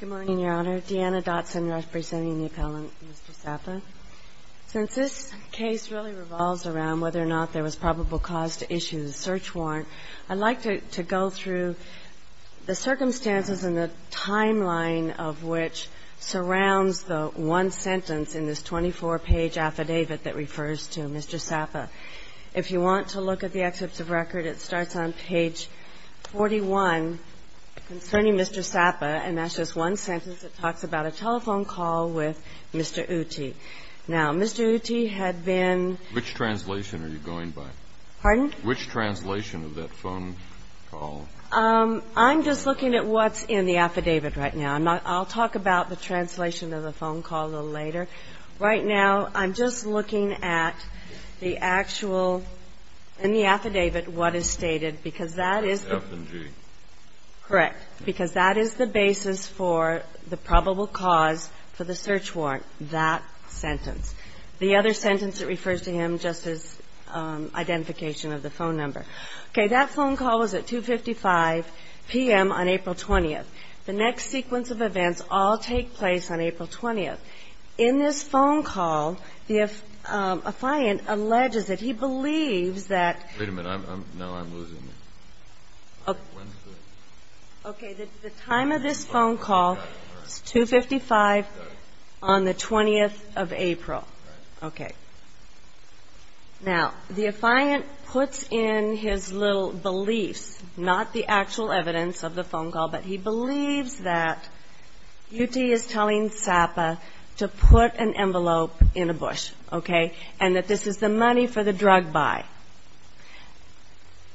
Good morning, Your Honor. Deanna Dotson representing the appellant, Mr. Sappa. Since this case really revolves around whether or not there was probable cause to issue the search warrant, I'd like to go through the circumstances and the timeline of which surrounds the one sentence in this 24-page affidavit that refers to Mr. Sappa. If you want to look at the excerpts of record, it starts on page 41 concerning Mr. Sappa, and that's just one sentence. It talks about a telephone call with Mr. Ooty. Now, Mr. Ooty had been Which translation are you going by? Pardon? Which translation of that phone call? I'm just looking at what's in the affidavit right now. I'll talk about the translation of the phone call a little later. Right now, I'm just looking at the actual, in the affidavit, what is stated, because that is F and G. Correct. Because that is the basis for the probable cause for the search warrant, that sentence. The other sentence that refers to him just is identification of the phone number. Okay. That phone call was at 255 p.m. on April 20th. The next sequence of events all take place on April 20th. In this phone call, the affiant alleges that he believes that Wait a minute. Now I'm losing this. Okay. The time of this phone call is 255 on the 20th of April. Okay. Now, the affiant puts in his little beliefs, not the actual evidence of the phone call, but he believes that UT is telling SAPA to put an envelope in a bush, okay, and that this is the money for the drug buy.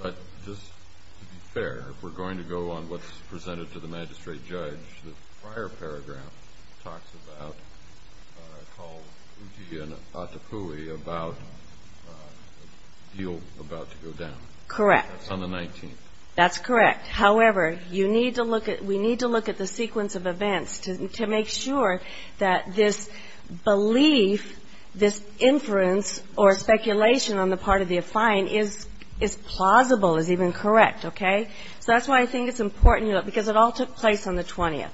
But just to be fair, if we're going to go on what's presented to the magistrate judge, the prior paragraph talks about a call, UT and Atapui, about a deal about to go down. Correct. That's on the 19th. That's correct. However, you need to look at, we need to look at the sequence of events to make sure that this belief, this inference or speculation on the part of the affiant is plausible, is even correct. Okay. So that's why I think it's important, because it all took place on the 20th.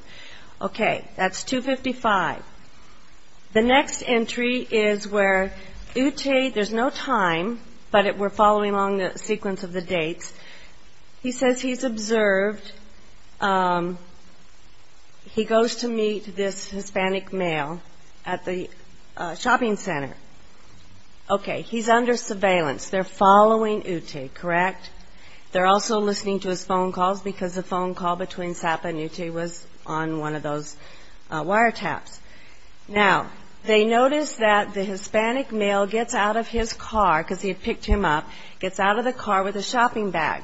Okay. That's 255. The next entry is where UT, there's no time, but we're following along the sequence of the dates. He says he's observed. He goes to meet this Hispanic male at the shopping center. Okay. He's under surveillance. They're following UT, correct? They're also listening to his phone calls, because the phone call between Sapa and UT was on one of those wiretaps. Now, they notice that the Hispanic male gets out of his car, because he had picked him up, gets out of the car with a shopping bag.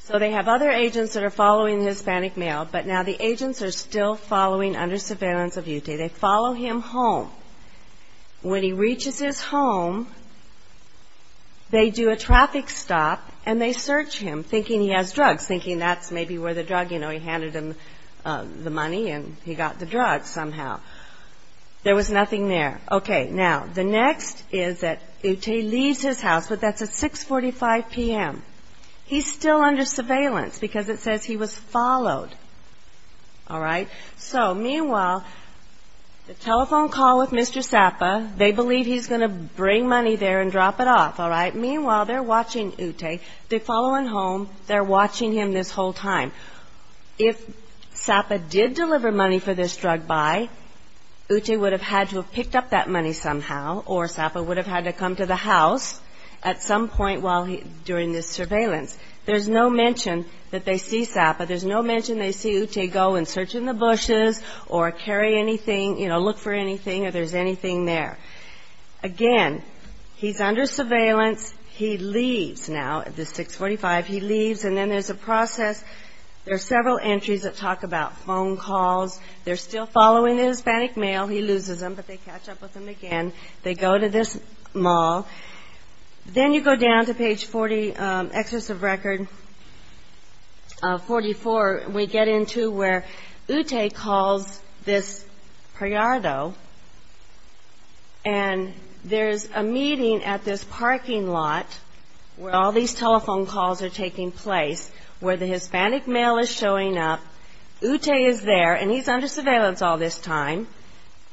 So they have other agents that are following the Hispanic male, but now the agents are still following under surveillance of UT. They follow him home. When he reaches his home, they do a traffic stop, and they search him, thinking he has drugs, thinking that's maybe where the drug, you know, he handed him the money, and he got the drugs somehow. There was nothing there. Okay. Now, the next is that UT leaves his house, but that's at 6.45 p.m. He's still under surveillance, because it says he was followed. All right. So, meanwhile, the telephone call with Mr. Sapa, they believe he's going to bring money there and drop it off, all right? Meanwhile, they're watching UT. They're following home. They're watching him this whole time. If Sapa did deliver money for this drug buy, UT would have had to have picked up that money somehow, or Sapa would have had to come to the house at some point during this surveillance. There's no mention that they see Sapa. There's no mention they see UT go and search in the bushes or carry anything, you know, look for anything, or there's anything there. Again, he's under surveillance. He leaves now at this 6.45. He leaves, and then there's a process. There are several entries that talk about phone calls. They're still following the Hispanic male. He loses them, but they catch up with him again. They go to this mall. Then you go down to page 40, excess of record 44, and we get into where UT calls this Priado, and there's a meeting at this parking lot where all these telephone calls are taking place, where the Hispanic male is showing up. UT is there, and he's under surveillance all this time,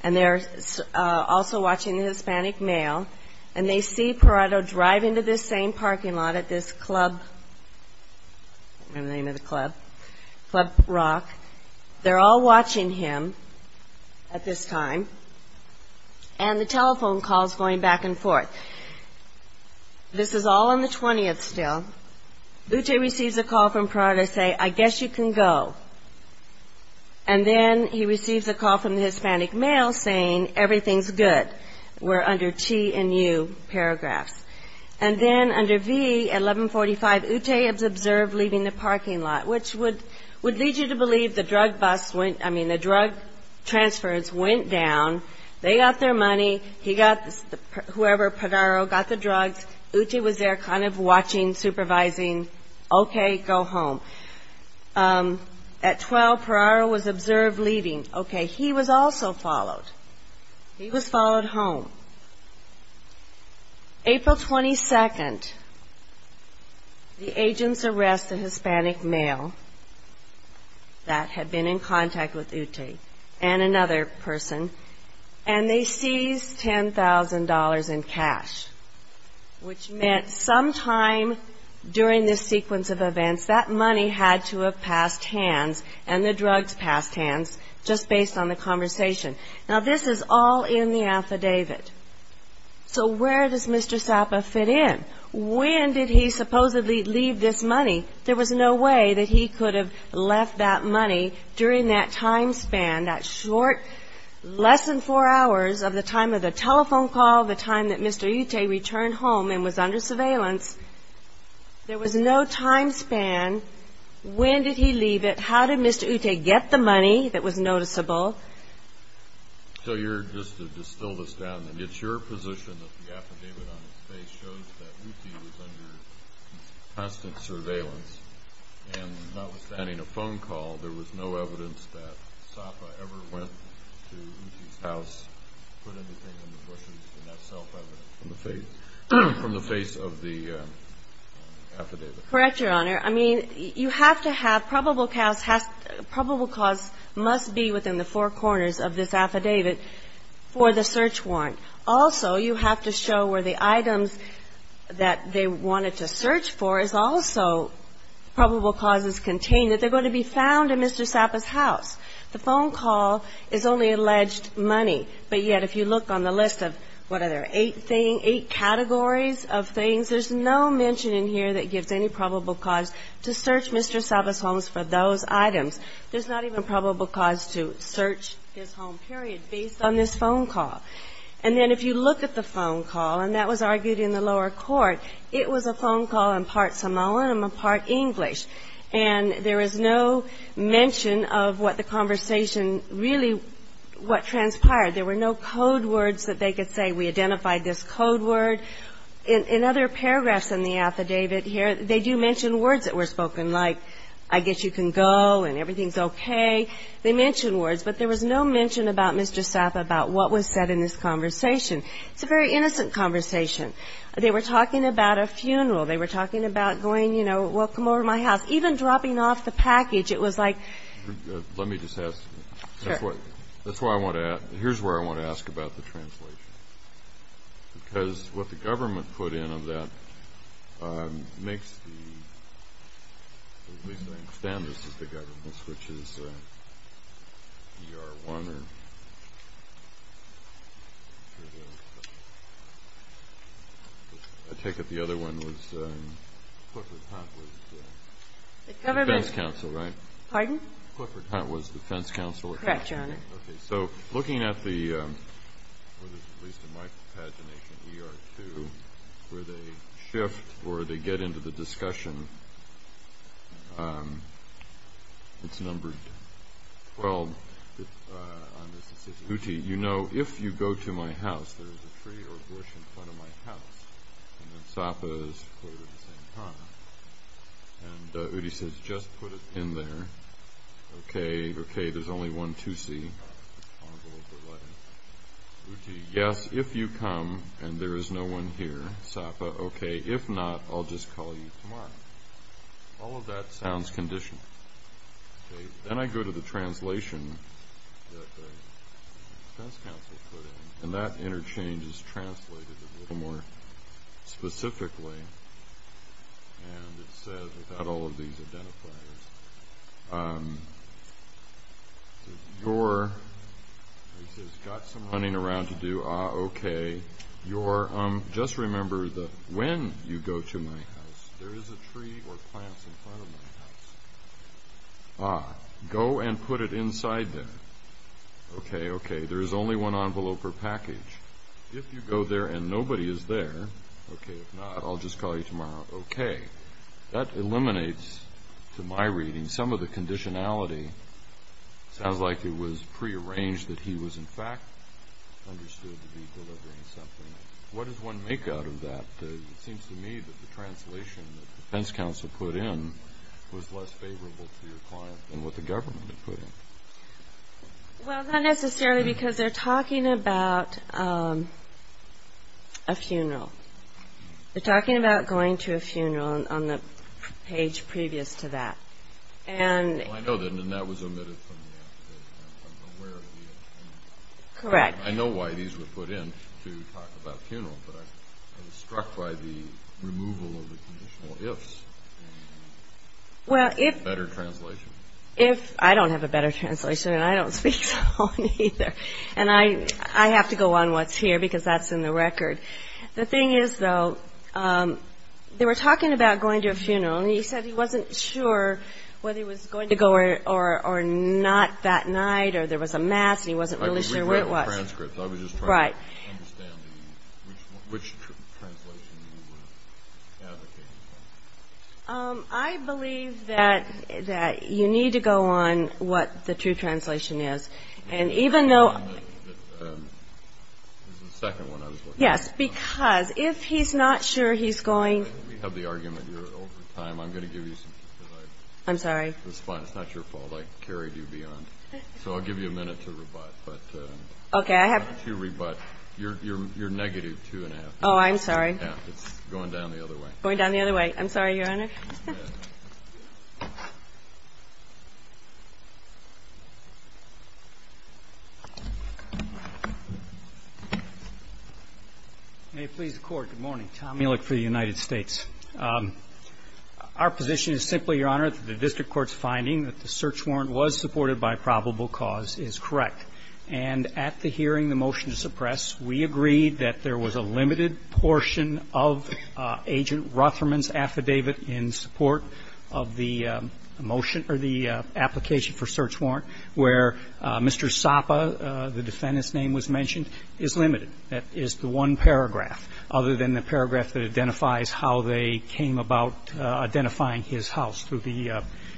and they're also watching the Hispanic male. And they see Priado drive into this same parking lot at this club, I don't remember the name of the club, Club Rock. They're all watching him at this time, and the telephone call is going back and forth. This is all on the 20th still. UT receives a call from Priado saying, I guess you can go, and then he receives a call from the Hispanic male saying everything's good. We're under T and U paragraphs. And then under V, at 1145, UT is observed leaving the parking lot, which would lead you to believe the drug bus went, I mean, the drug transfers went down, they got their money, he got, whoever, Priado got the drugs, UT was there kind of watching, supervising, okay, go home. At 12, Priado was observed leaving. Okay, he was also followed. He was followed home. April 22nd, the agents arrest the Hispanic male that had been in contact with UT, and another person, and they seize $10,000 in cash, which meant sometime during this sequence of events, that money had to have passed hands, and the drugs passed hands, just based on the conversation. Now, this is all in the affidavit. So where does Mr. Sapa fit in? When did he supposedly leave this money? There was no way that he could have left that money during that time span, that short, less than four hours of the time of the telephone call, the time that Mr. Ute returned home and was under surveillance. There was no time span. When did he leave it? How did Mr. Ute get the money that was noticeable? So you're, just to distill this down, it's your position that the affidavit on his face shows that UT was under constant surveillance, and not withstanding a phone call, there was no evidence that Sapa ever went to UT's house. Put anything in the bushes, in that cell, from the face of the affidavit? Correct, Your Honor. I mean, you have to have probable cause must be within the four corners of this affidavit for the search warrant. Also, you have to show where the items that they wanted to search for is also probable causes contained, that they're going to be found in Mr. Ute's house, and not in the money. But yet, if you look on the list of, what are there, eight categories of things, there's no mention in here that gives any probable cause to search Mr. Sapa's home for those items. There's not even probable cause to search his home, period, based on this phone call. And then if you look at the phone call, and that was argued in the lower court, it was a phone call in part Samoan and part English. And there is no mention of what the conversation really, what transpired. There were no code words that they could say, we identified this code word. In other paragraphs in the affidavit here, they do mention words that were spoken, like, I guess you can go, and everything's okay. They mention words. But there was no mention about Mr. Sapa, about what was said in this conversation. It's a very innocent conversation. They were talking about a funeral. They were talking about going, you know, welcome over to my house. Even dropping off the package, it was like... Pardon? Clifford Hunt was defense counsel at that time. Correct, Your Honor. Okay, so looking at the, or at least in my pagination, ER2, where they shift, where they get into the discussion, it's numbered, well, on this decision, Uti, you know, if you go to my house, there's a tree or bush in front of my house, and then Sapa is quoted the same time. And Uti says, just put it in there. Okay, there's only one 2C. Uti, yes, if you come, and there is no one here, Sapa, okay, if not, I'll just call you tomorrow. All of that sounds conditional. Then I go to the translation that the defense counsel put in, and that interchange is translated a little more specifically. And it says, without all of these identifiers, your, it says, got some running around to do, ah, okay, your, just remember that when you go to my house, there is a tree or plants in front of my house. Ah, go and put it inside there. Okay, okay, there is only one envelope or package. If you go there and nobody is there, okay, if not, I'll just call you tomorrow. Okay. That eliminates, to my reading, some of the conditionality. Sounds like it was prearranged that he was, in fact, understood to be delivering something. What does one make out of that? It seems to me that the translation that the defense counsel put in was less favorable to your client than what the government put in. Well, not necessarily because they're talking about, um, a funeral. They're talking about going to a funeral on the page previous to that. Correct. I know why these were put in, to talk about funeral, but I was struck by the removal of the conditional ifs. Well, if, I don't have a better translation and I don't speak so well either, and I have to go on what's here because that's in the record. The thing is, though, um, they were talking about going to a funeral and he said he wasn't sure whether he was going to go or not that night or there was a mass and he wasn't really sure where it was. I didn't read the whole transcript. I was just trying to understand which translation you were advocating for. Um, I believe that you need to go on what the true translation is. And even though... Yes, because if he's not sure he's going... I'm sorry. It's fine. It's not your fault. I carried you beyond. So I'll give you a minute to rebut, but... Okay, I have... You're negative two and a half. Oh, I'm sorry. May it please the Court, good morning. I'm Tom Mealick for the United States. Our position is simply, Your Honor, that the district court's finding that the search warrant was supported by probable cause is correct. And at the hearing, the motion to suppress, we agreed that there was a limited portion of Agent Rutherman's affidavit in support of the motion or the application for search warrant where Mr. Sapa, the defendant's mentioned, is limited. That is the one paragraph other than the paragraph that identifies how they came about identifying his house through the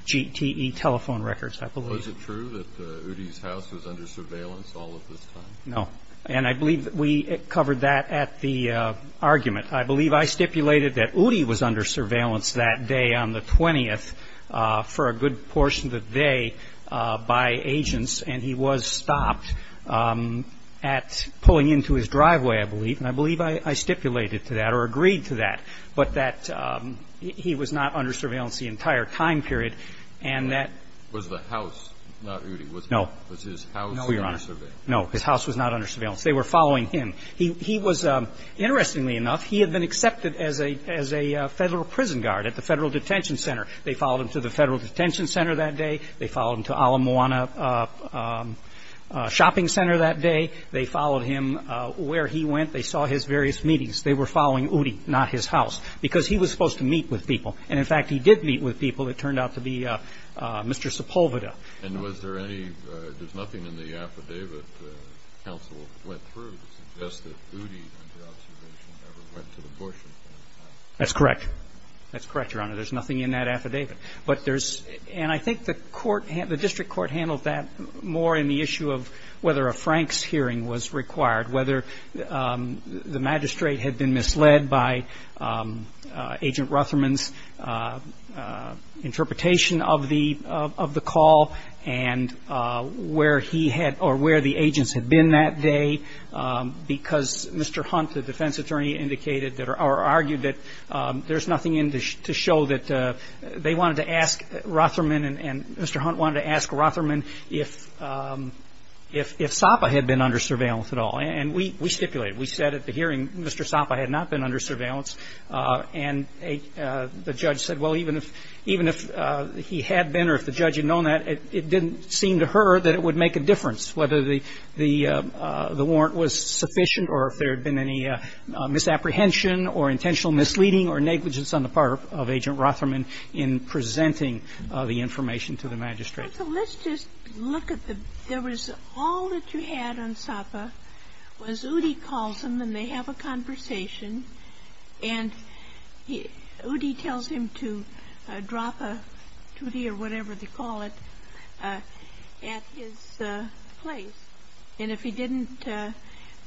GTE telephone records, I believe. Was it true that Udi's house was under surveillance all of this time? No. And I believe we covered that at the argument. I believe I stipulated that Udi was under surveillance that day on the 20th for a good portion of the day by agents, and he was stopped at pulling into his driveway, I believe, and I believe I stipulated to that or agreed to that, but that he was not under surveillance the entire time period, and that... Was the house not Udi? Was his house under surveillance? No, Your Honor. No, his house was not under surveillance. They were following him. He was, interestingly enough, he had been accepted as a Federal prison guard at the Federal Detention Center. They followed him to the Federal Detention Center that day. They followed him to Ala Moana Shopping Center that day. They followed him where he went. They saw his various meetings. They were following Udi, not his house, because he was supposed to meet with people. And, in fact, he did meet with people. It turned out to be Mr. Sepulveda. And was there any, there's nothing in the affidavit the counsel went through to suggest that Udi, under observation, never went to the portion? That's correct. That's correct, Your Honor. There's nothing in that affidavit. But there's, and I think the court, the district court handled that more in the issue of whether a Franks hearing was required, whether the magistrate had been misled by Agent Rutherman's interpretation of the call and where he had, or where the agents had been that day, because Mr. Hunt, the defense attorney, indicated or argued that there's nothing in to show that they wanted to ask Rutherman and Mr. Hunt wanted to ask Rutherman if Sapa had been under surveillance at all. And we stipulated. We said at the hearing Mr. Sapa had not been under surveillance. And the judge said, well, even if he had been or if the judge had known that, it didn't seem to her that it would make a difference whether the warrant was sufficient or if there had been any misapprehension or intentional misleading or negligence on the part of Agent Rutherman in presenting the information to the magistrate. So let's just look at the – there was all that you had on Sapa was Udi calls him and they have a conversation, and Udi tells him to drop a tutti or whatever they call it at his place. And if he didn't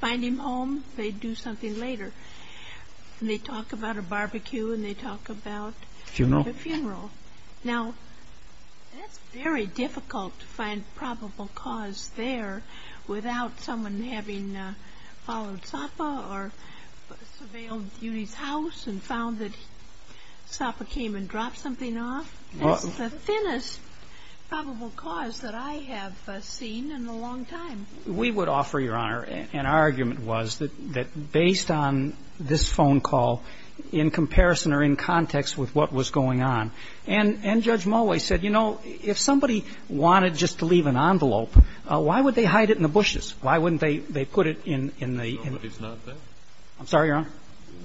find him home, they'd do something later. And they talk about a barbecue and they talk about a funeral. Now, that's very difficult to find probable cause there without someone having followed Sapa or surveilled Udi's house and found that Sapa came and dropped something off. That's the thinnest probable cause that I have seen in a long time. We would offer, Your Honor, and our argument was that based on this phone call, in comparison or in context with what was going on, and Judge Mulway said, you know, if somebody wanted just to leave an envelope, why would they hide it in the bushes? Why wouldn't they put it in the – Nobody's not there. I'm sorry, Your Honor?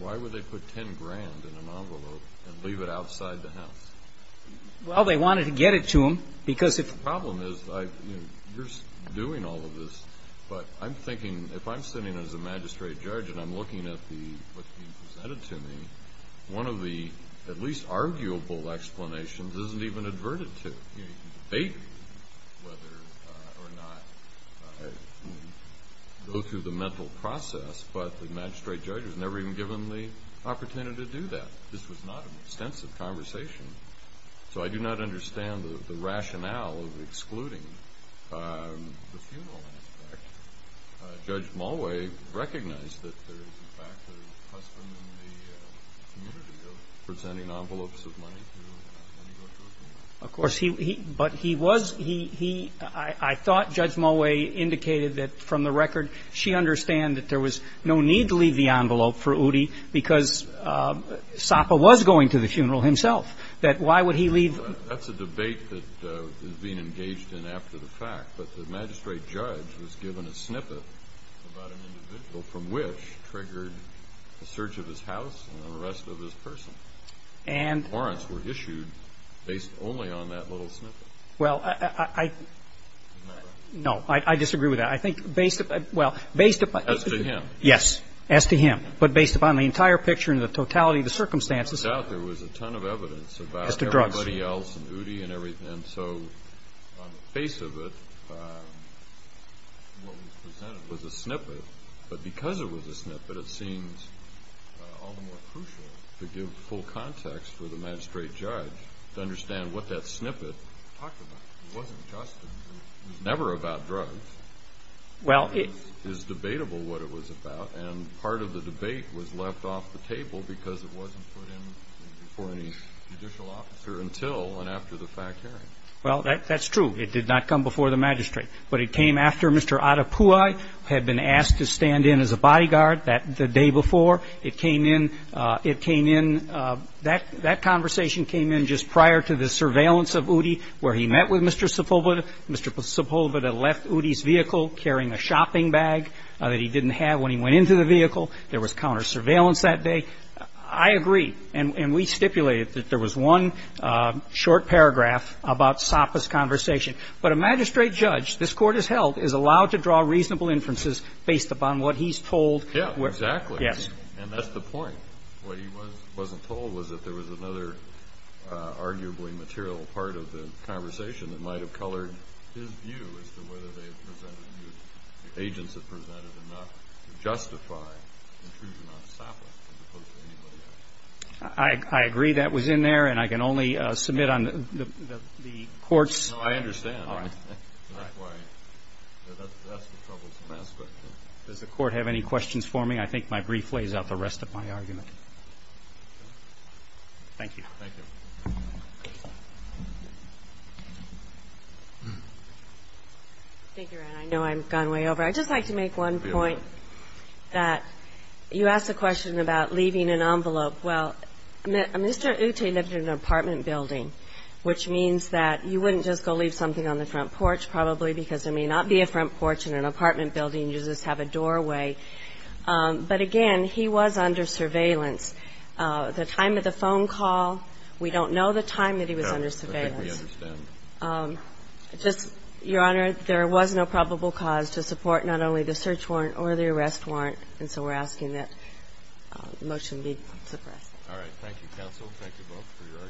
Why would they put 10 grand in an envelope and leave it outside the house? Well, they wanted to get it to him because if – The problem is you're doing all of this, but I'm thinking if I'm sitting as a magistrate judge and I'm looking at what's being presented to me, one of the at least arguable explanations isn't even adverted to. You can debate whether or not to go through the mental process, but the magistrate judge was never even given the opportunity to do that. This was not an extensive conversation, so I do not understand the rationale of excluding the funeral aspect. Judge Mulway recognized that there is, in fact, a husband in the community presenting envelopes of money to him. Of course, he – but he was – he – I thought Judge Mulway indicated that, from the record, she understood that there was no need to leave the envelope for Udi because Sapa was going to the funeral himself, that why would he leave – That's a debate that is being engaged in after the fact, but the magistrate judge was given a snippet about an individual from which triggered the search of his house and the arrest of his person. And – The warrants were issued based only on that little snippet. Well, I – Isn't that right? No, I disagree with that. I think based – well, based upon – As to him. Yes, as to him. But based upon the entire picture and the totality of the circumstances Without doubt, there was a ton of evidence about everybody else and Udi and everything. And so on the face of it, what was presented was a snippet. But because it was a snippet, it seems all the more crucial to give full context for the magistrate judge to understand what that snippet talked about. It wasn't just – it was never about drugs. Well, it – It is debatable what it was about, and part of the debate was left off the table because it wasn't put in before any judicial officer until and after the fact hearing. Well, that's true. It did not come before the magistrate. But it came after Mr. Adepua had been asked to stand in as a bodyguard the day before. It came in – it came in – that conversation came in just prior to the surveillance of Udi where he met with Mr. Sepulveda. Mr. Sepulveda left Udi's vehicle carrying a shopping bag that he didn't have when he went into the vehicle. There was counter-surveillance that day. I agree. And we stipulated that there was one short paragraph about Sapa's conversation. But a magistrate judge, this Court has held, is allowed to draw reasonable inferences based upon what he's told. Yes, exactly. Yes. And that's the point. What he wasn't told was that there was another arguably material part of the conversation that might have colored his view as to whether the agents had presented enough to justify intrusion on Sapa as opposed to anybody else. I agree. That was in there. And I can only submit on the Court's – No, I understand. All right. That's why – that's the troublesome aspect. Does the Court have any questions for me? I think my brief lays out the rest of my argument. Thank you. Thank you. Thank you, Ron. I know I've gone way over. I'd just like to make one point that you asked a question about leaving an envelope. Well, Mr. Uti lived in an apartment building, which means that you wouldn't just go leave something on the front porch probably because there may not be a front porch in an apartment building. There's quite a lot of drinking water, ceiling washing machines, what-has-not, pollutants and cleaners have a doorway. But, again, he was under surveillance. The time of the phone call, we don't know the time that he was under surveillance. All right. I think we understand. Your Honor, there was no probable cause to support not only the search warrant or the arrest warrant, and so we're asking that the motion be suppressed. All right. Thank you, counsel. Thank you both for your arguments. Case argued as submitted.